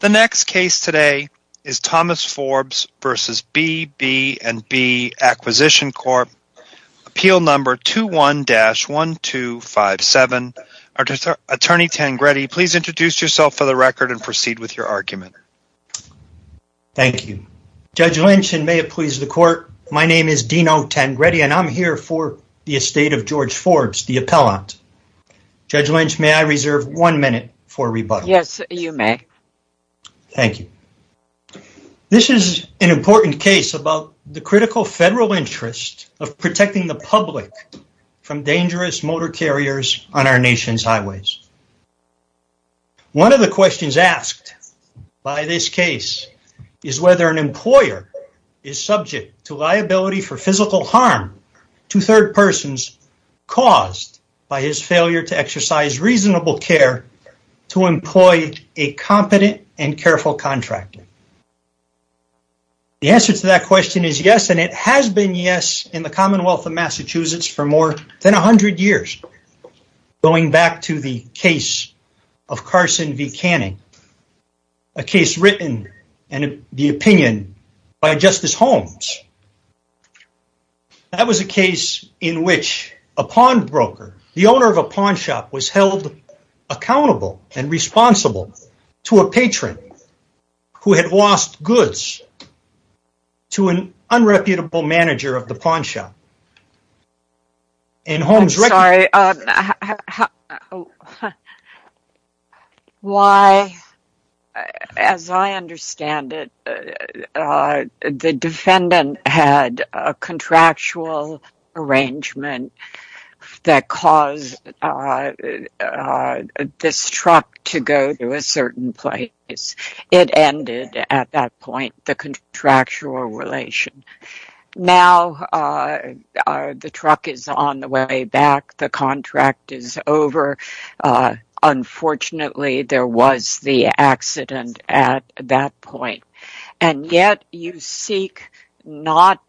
The next case today is Thomas Forbes v. BB&B Acquisition Corp. Appeal Number 21-1257. Attorney Tangretti, please introduce yourself for the record and proceed with your argument. Thank you. Judge Lynch, and may it please the court, my name is Dino Tangretti and I'm here for the estate of George Forbes, the appellant. Judge Lynch, may I reserve one minute for rebuttal? Yes, you may. Thank you. This is an important case about the critical federal interest of protecting the public from dangerous motor carriers on our nation's highways. One of the questions asked by this case is whether an employer is subject to liability for physical harm to third persons caused by his failure to exercise reasonable care to employ a competent and careful contractor. The answer to that question is yes, and it has been yes in the Commonwealth of Massachusetts for more than a hundred years, going back to the case of Carson v. Canning, a case written and the opinion by Justice Holmes. That was a case in which a pawnbroker, the owner of a pawnshop, was held accountable and responsible to a patron who had lost goods to an unreputable manager of the pawnshop. And Holmes… I'm sorry, why, as I understand it, the defendant had a contractual arrangement that caused this truck to go to a certain place. It ended at that point, the contractual relation. Now the truck is on the way back, the contract is over, unfortunately there was the accident at that point, and yet you seek not…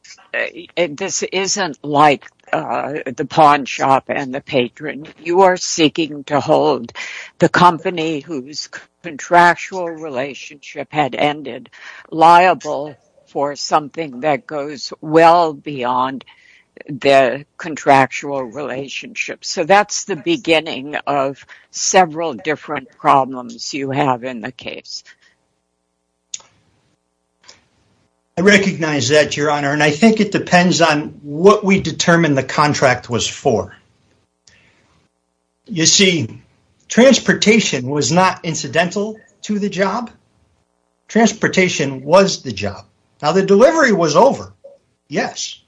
This isn't like the pawnshop and the patron. You are seeking to hold the company whose contractual relationship had ended liable for something that goes well beyond the contractual relationship. So that's the beginning of several different problems you have in the case. I recognize that, Your Honor, and I think it depends on what we determine the contract was for. You see, transportation was not incidental to the job. Transportation was the job. Now the delivery was over, yes,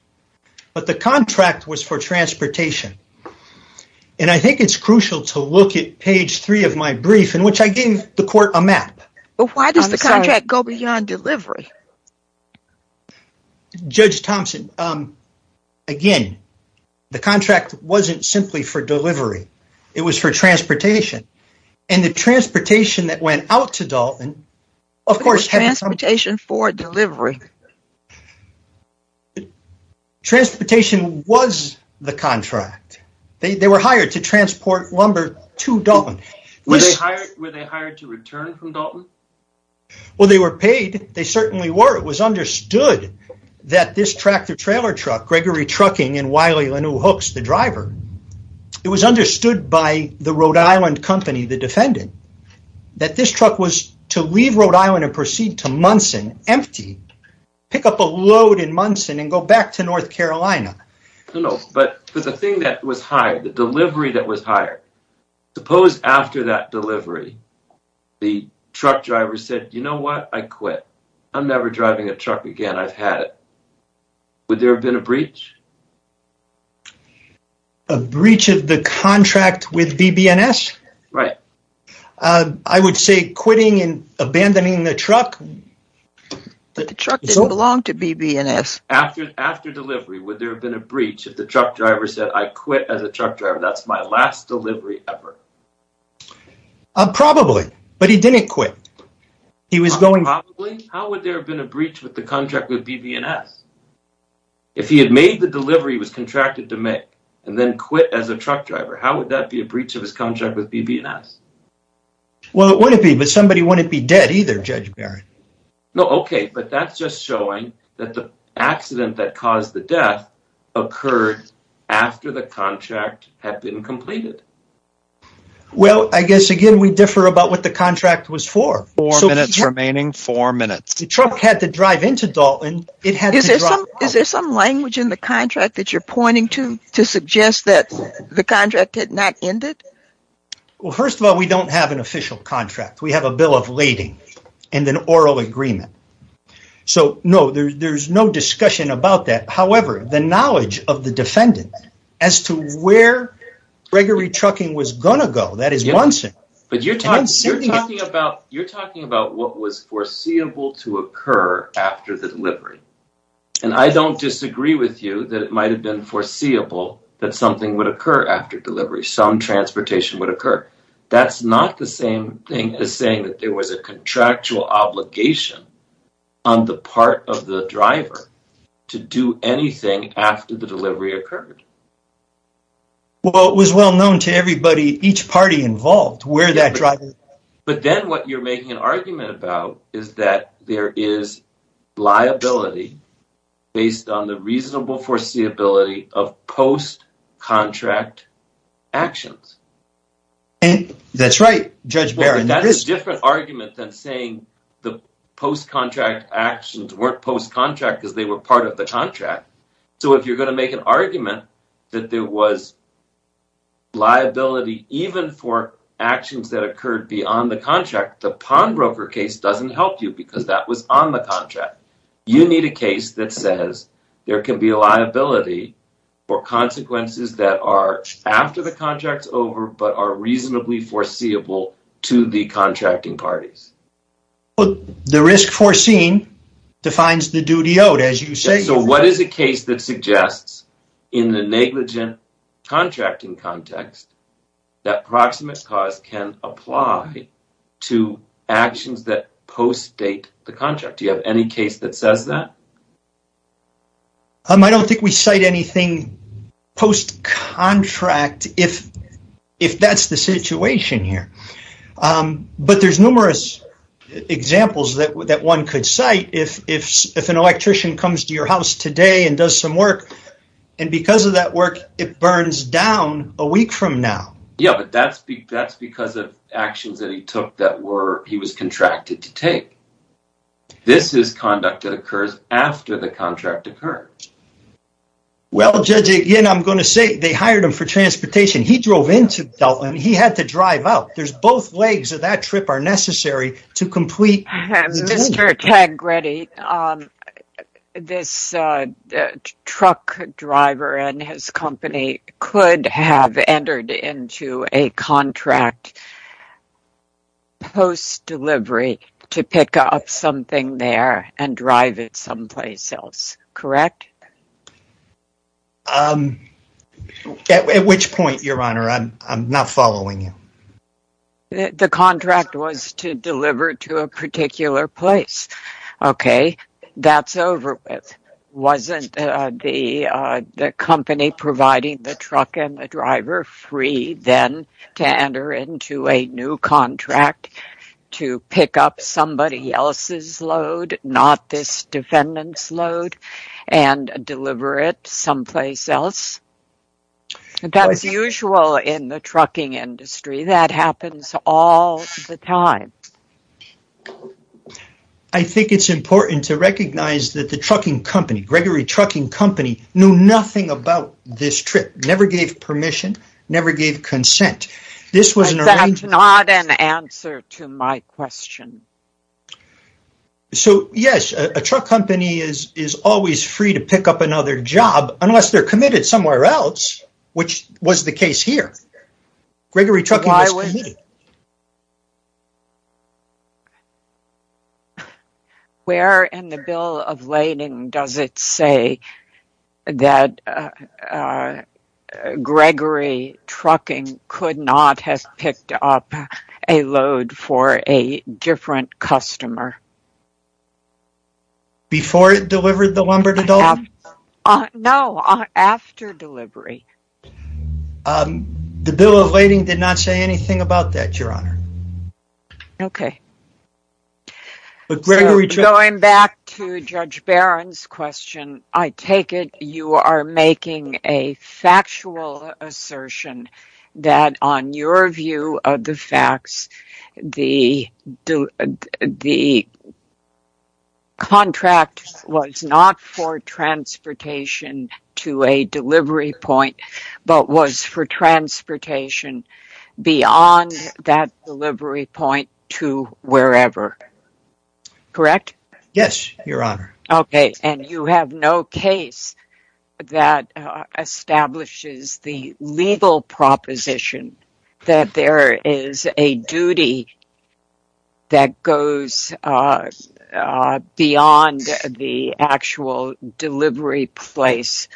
but the contract was for transportation. And I think it's crucial to look at page three of my brief in which I gave the court a map. But why does the contract go beyond delivery? Judge Thompson, again, the contract wasn't simply for delivery. It was for transportation. And the transportation that went out to Dalton… Of course transportation for delivery. Transportation was the contract. They were hired to transport lumber to Dalton. Were they hired to return from Dalton? Well, they were paid. They certainly were. It was understood that this tractor-trailer truck, Gregory Trucking and Wiley-Lenoux Hooks, the driver, it was understood by the Rhode Island company, the defendant, that this truck was to leave Rhode Island and proceed to Munson empty, pick up a load in Munson and go back to North Carolina. No, no, but for the thing that was hired, the delivery that was hired, suppose after that delivery, the truck driver said, you know what, I quit. I'm never driving a truck again. I've had it. Would there have been a breach? A breach of the contract with BB&S? Right. I would say quitting and abandoning the truck. But the truck didn't belong to BB&S. After delivery, would there have been a breach if the truck driver said, I quit as a truck driver. That's my last delivery ever. Probably, but he didn't quit. He was going... Probably? How would there have been a breach with the contract with BB&S? If he had made the delivery, was contracted to make, and then quit as a truck driver, how would that be a breach of his contract with BB&S? Well, it wouldn't be, but somebody wouldn't be dead either, Judge Barrett. No, okay, but that's just showing that the accident that caused the death occurred after the contract had been completed. Well, I guess again, we differ about what the contract was for. Four minutes remaining, four minutes. The truck had to drive into Dalton. It had to drive... Is there some language in the contract that you're pointing to, to suggest that the contract had not ended? Well, first of all, we don't have an official contract. We have a bill of lading and an oral agreement. So no, there's no discussion about that. However, the knowledge of the defendant as to where Gregory Trucking was going to go, that is one thing. But you're talking about what was foreseeable to occur after the delivery, and I don't disagree with you that it might have been foreseeable that something would occur after delivery. Some transportation would occur. That's not the same thing as saying that there was a contractual obligation on the part of the driver to do anything after the delivery occurred. Well, it was well known to everybody, each party involved, where that driver... But then what you're making an argument about is that there is liability based on the reasonable foreseeability of post-contract actions. That's right, Judge Barron. That's a different argument than saying the post-contract actions weren't post-contract because they were part of the contract. So if you're going to make an argument that there was liability even for actions that occurred beyond the contract, the pawnbroker case doesn't help you because that was on the contract. You need a case that says there can be a liability for consequences that are after the contract's reasonably foreseeable to the contracting parties. The risk foreseen defines the duty owed, as you say. So what is a case that suggests in the negligent contracting context that proximate cause can apply to actions that post-date the contract? Do you have any case that says that? I don't think we cite anything post-contract. If that's the situation here. But there's numerous examples that one could cite. If an electrician comes to your house today and does some work, and because of that work it burns down a week from now. Yeah, but that's because of actions that he took that he was contracted to take. This is conduct that occurs after the contract occurred. Well, Judge, again, I'm going to say they hired him for transportation. He drove into Dalton. He had to drive out. There's both legs of that trip are necessary to complete the deal. Mr. Tagretti, this truck driver and his company could have entered into a contract post-delivery to pick up something there and drive it someplace else, correct? At which point, Your Honor, I'm not following you. The contract was to deliver to a particular place. Okay, that's over with. Wasn't the company providing the truck and the driver free then to enter into a new contract to pick up somebody else's load, not this defendant's load, and deliver it someplace else? That's usual in the trucking industry. That happens all the time. I think it's important to recognize that the trucking company, Gregory Trucking Company, knew nothing about this trip, never gave permission, never gave consent. But that's not an answer to my question. So, yes, a truck company is always free to pick up another job unless they're committed somewhere else, which was the case here. Gregory Trucking was committed. Where in the bill of lading does it say that Gregory Trucking could not have picked up a load for a different customer? Before it delivered the lumber to Duluth? No, after delivery. The bill of lading did not say anything about that. Okay, going back to Judge Barron's question, I take it you are making a factual assertion that on your view of the facts, the contract was not for transportation to a delivery point, but was for transportation beyond that delivery point to wherever. Correct? Yes, Your Honor. Okay, and you have no case that establishes the legal proposition that there is a duty that goes beyond the actual delivery place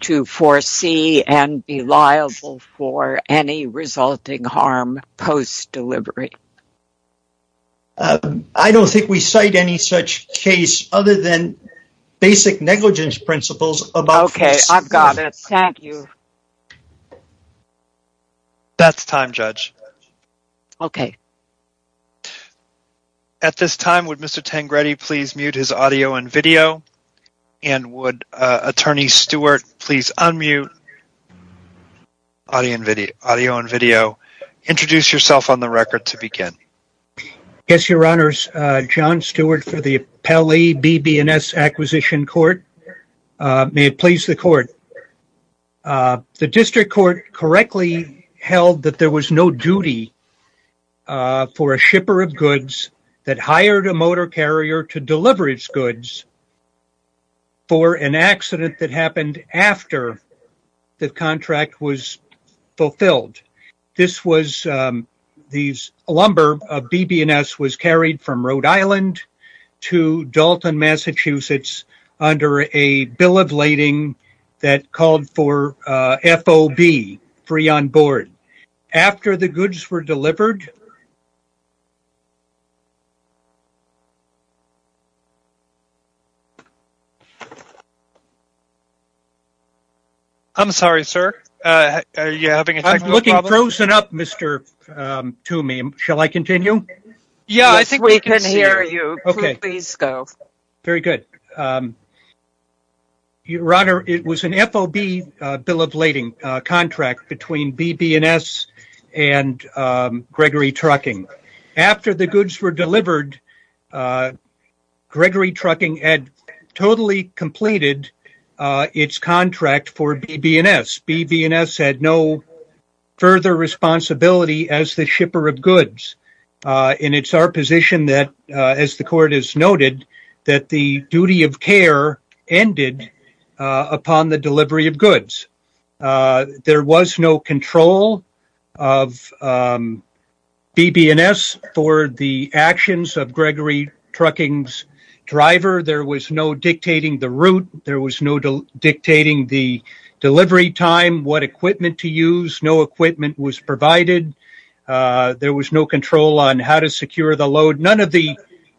to foresee and be liable for any resulting harm post-delivery? I don't think we cite any such case other than basic negligence principles about- Okay, I've got it. Thank you. That's time, Judge. Okay. At this time, would Mr. Tengrede please mute his audio and video, and would Attorney Stewart please unmute audio and video. Introduce yourself on the record to begin. Yes, Your Honors. John Stewart for the Appellee BB&S Acquisition Court. May it please the Court. The district court correctly held that there was no duty for a shipper of goods that hired a motor carrier to deliver its goods for an accident that happened after the contract was fulfilled. This lumber of BB&S was carried from Rhode Island to Dalton, Massachusetts, under a bill of lading that called for FOB, free on board. After the goods were delivered- I'm sorry, sir, are you having a technical problem? I'm looking frozen up, Mr. Toomey. Shall I continue? Yeah, I think we can hear you. Okay. Please go. Very good. Your Honor, it was an FOB bill of lading contract between BB&S and Gregory Trucking. After the goods were delivered, Gregory Trucking had totally completed its contract for BB&S. BB&S had no further responsibility as the shipper of goods, and it's our position that, as the Court has noted, that the duty of care ended upon the delivery of goods. There was no control of BB&S for the actions of Gregory Trucking's driver. There was no dictating the route. There was no dictating the delivery time, what equipment to use. No equipment was provided. There was no control on how to secure the load. None of the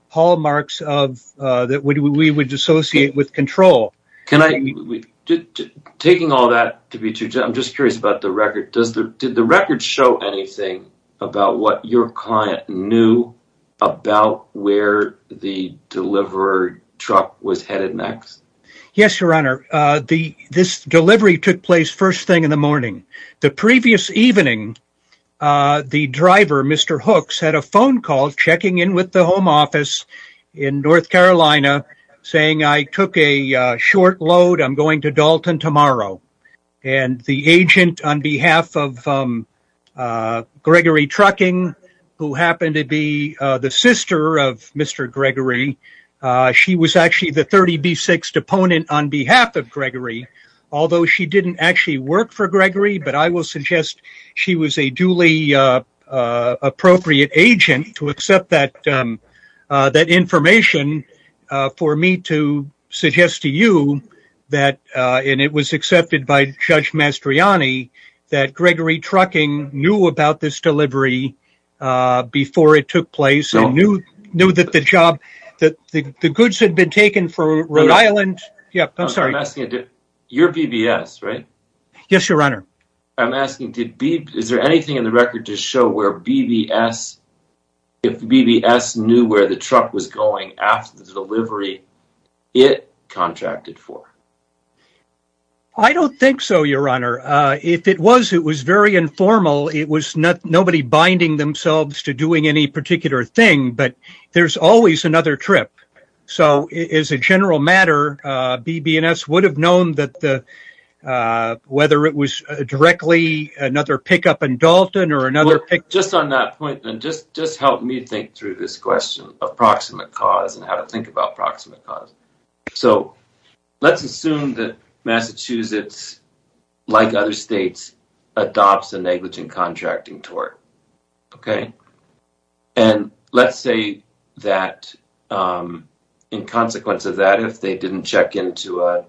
hallmarks that we would associate with control. Taking all that to be true, I'm just curious about the record. Did the record show anything about what your client knew about where the deliverer truck was headed next? Yes, Your Honor. This delivery took place first thing in the morning. The previous evening, the driver, Mr. Hooks, had a phone call checking in with the home office in North Carolina saying, I took a short load. I'm going to Dalton tomorrow. The agent on behalf of Gregory Trucking, who happened to be the sister of Mr. Gregory, she was actually the 30B6th opponent on behalf of Gregory. Although she didn't actually work for Gregory, but I will suggest she was a duly appropriate agent to accept that information for me to suggest to you that, and it was accepted by Judge Mastrianni, that Gregory Trucking knew about this delivery before it took place. He knew that the goods had been taken from Rhode Island. Yeah, I'm sorry. I'm asking, you're BBS, right? Yes, Your Honor. I'm asking, is there anything in the record to show where BBS, if BBS knew where the truck was going after the delivery it contracted for? I don't think so, Your Honor. If it was, it was very informal. It was nobody binding themselves to doing any particular thing, but there's always another trip. So, as a general matter, BBS would have known that the, whether it was directly another pickup in Dalton or another pick... Just on that point, and just help me think through this question of proximate cause and how to think about proximate cause. So, let's assume that Massachusetts, like other states, adopts a negligent contracting tort, okay? And let's say that in consequence of that, if they didn't check into a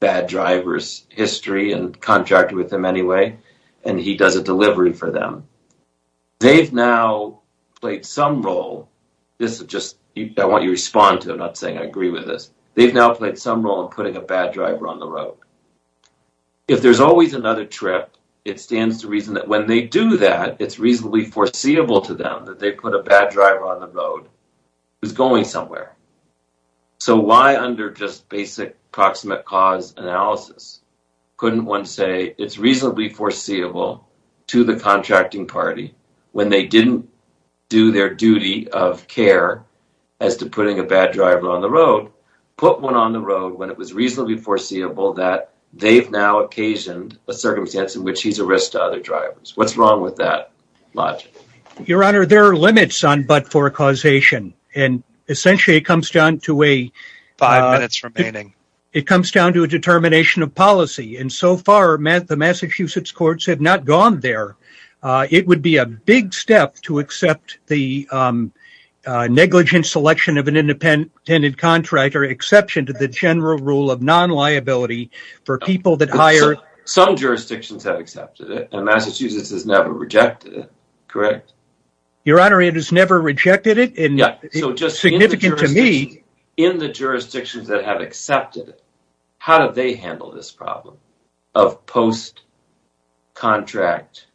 bad driver's history and contracted with them anyway, and he does a delivery for them, they've now played some role. This is just, I want you to respond to it, I'm not saying I agree with this. They've now played some role in putting a bad driver on the road. If there's always another trip, it stands to reason that when they do that, it's reasonably foreseeable to them that they put a bad driver on the road who's going somewhere. So, why under just basic proximate cause analysis couldn't one say it's reasonably foreseeable to the contracting party when they didn't do their duty of care as to putting a bad driver on the road, put one on the road when it was reasonably foreseeable that they've now occasioned a circumstance in which he's a risk to other drivers. What's wrong with that logic? Your Honor, there are limits on but-for causation, and essentially it comes down to a... Five minutes remaining. It comes down to a determination of policy, and so far the Massachusetts courts have not gone there. It would be a big step to accept the negligent selection of an independent contractor, exception to the general rule of non-liability for people that hire... Some jurisdictions have accepted it, and Massachusetts has never rejected it, correct? Your Honor, it has never rejected it, and it's significant to me... In the jurisdictions that have accepted it, how do they handle this problem of post-contract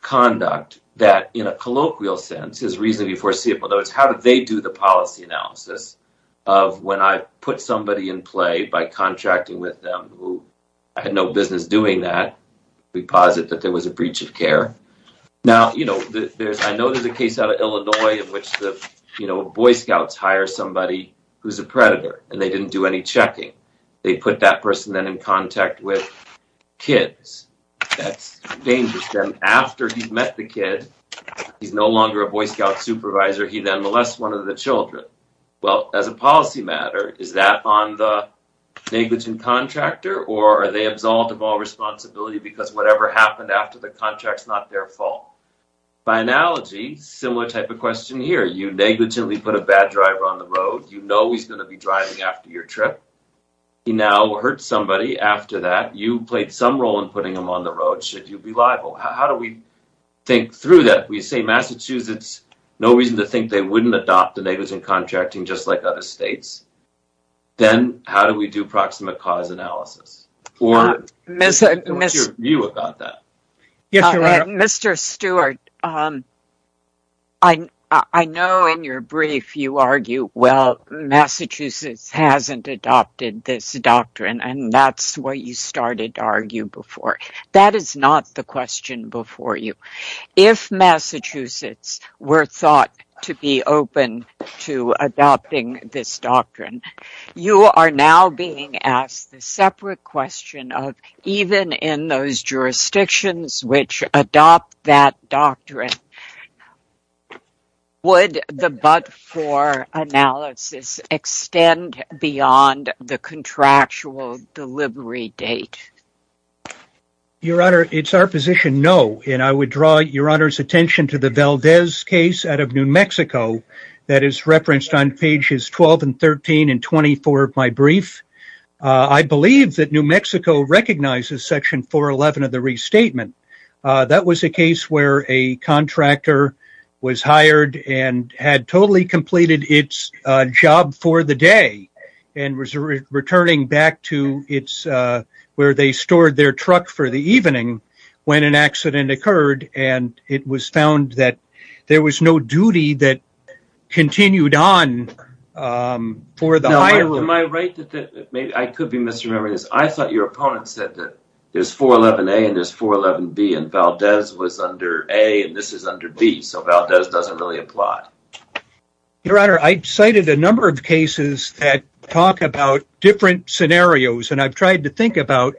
conduct that in a colloquial sense is reasonably foreseeable? In other words, how do they do the policy analysis of when I put somebody in play by contracting with them who I had no business doing that, we posit that there was a breach of care. Now, I know there's a case out of Illinois in which the Boy Scouts hire somebody who's a predator, and they didn't do any checking. They put that person then in contact with kids. That's dangerous. Then after he's met the kid, he's no longer a Boy Scout supervisor, he then molests one of the children. Well, as a policy matter, is that on the negligent contractor, or are they absolved of all responsibility because whatever happened after the contract's not their fault? By analogy, similar type of question here. You negligently put a bad driver on the road. You know he's going to be driving after your trip. He now hurts somebody after that. You played some role in putting him on the road. Should you be liable? How do we think through that? We say Massachusetts, no reason to think they wouldn't adopt a negligent contracting just like other states. Then how do we do proximate cause analysis? What's your view about that? Mr. Stewart, I know in your brief you argue, well, Massachusetts hasn't adopted this doctrine, and that's what you started to argue before. That is not the question before you. If Massachusetts were thought to be open to adopting this doctrine, you are now being asked the separate question of even in those jurisdictions which adopt that doctrine, would the but-for analysis extend beyond the contractual delivery date? Your Honor, it's our position no, and I would draw your Honor's attention to the Valdez case out of New Mexico that is referenced on pages 12 and 13 and 24 of my brief. I believe that New Mexico recognizes section 411 of the restatement. That was a case where a contractor was hired and had totally completed its job for the day and was returning back to where they stored their truck for the evening when an accident occurred, and it was found that there was no duty that continued on for the hire. Am I right that I could be misremembering this? I thought your opponent said that there's 411A and there's 411B, and Valdez was under A and this is under B, so Valdez doesn't really apply. Your Honor, I cited a number of cases that talk about different scenarios, and I've tried to think about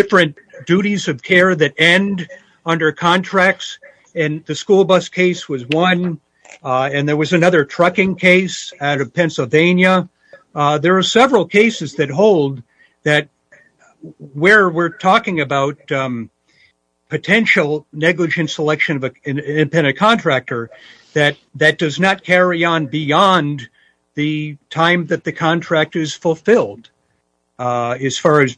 different duties of care that end under contracts, and the school bus case was one, and there was another trucking case out of Pennsylvania. There are several cases that hold that where we're talking about potential negligent selection of an independent contractor that does not carry on beyond the time that the contract is fulfilled. As far as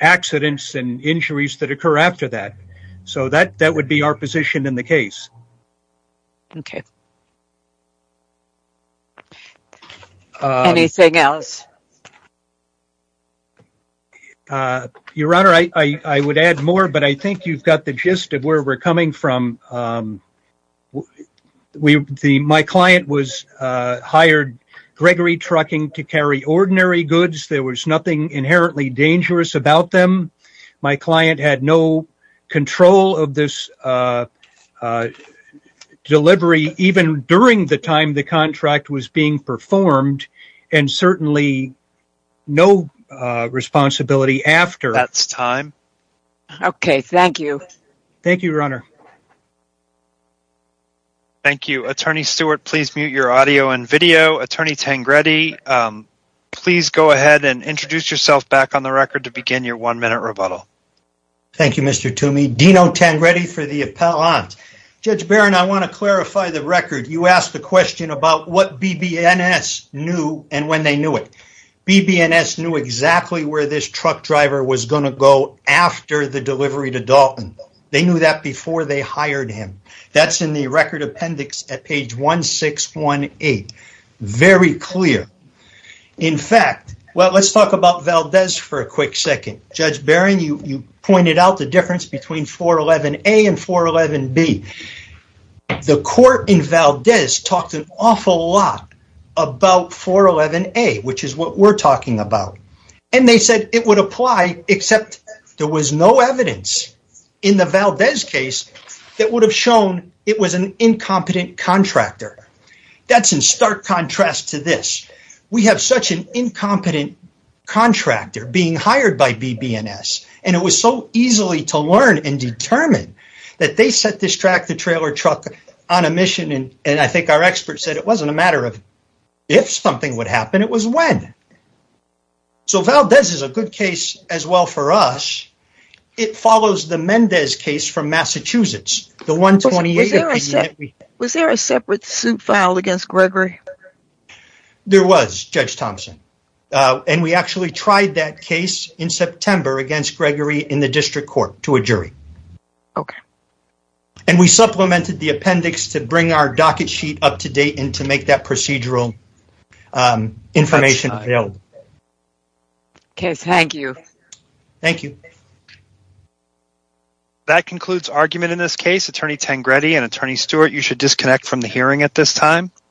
accidents and injuries that occur after that, so that would be our position in the case. Okay. Anything else? Your Honor, I would add more, but I think you've got the gist of where we're coming from. My client hired Gregory Trucking to carry ordinary goods. There was nothing inherently dangerous about them. My client had no control of this delivery, even during the time the contract was being performed, and certainly no responsibility after. That's time. Okay, thank you. Thank you, Your Honor. Thank you. Attorney Stewart, please mute your audio and video. Attorney Tangredi, please go ahead and introduce yourself back on the record to begin your one-minute rebuttal. Thank you, Mr. Toomey. Dino Tangredi for the appellant. Judge Barron, I want to clarify the record. You asked the question about what BBNS knew and when they knew it. BBNS knew exactly where this truck driver was going to go after the delivery to Dalton. They knew that before they hired him. That's in the record appendix at page 1618. Very clear. In fact, well, let's talk about Valdez for a quick second. Judge Barron, you pointed out the difference between 411A and 411B. The court in Valdez talked an awful lot about 411A, which is what we're talking about, and they said it would apply, except there was no evidence in the Valdez case that would have shown it was an incompetent contractor. That's in stark contrast to this. We have such an incompetent contractor being hired by BBNS, and it was so easily to learn and determine that they set this track to trailer truck on a mission, and I think our experts said it wasn't a matter of if something would happen, it was when. So Valdez is a good case as well for us. It follows the Mendez case from Massachusetts, the 128. Was there a separate suit filed against Gregory? There was, Judge Thompson, and we actually tried that case in September against Gregory in the district court to a jury. Okay. And we supplemented the appendix to bring our docket sheet up to date and to make that procedural information available. Okay, thank you. Thank you. That concludes argument in this case. Attorney Tengrede and Attorney Stewart, you should disconnect from the hearing at this time.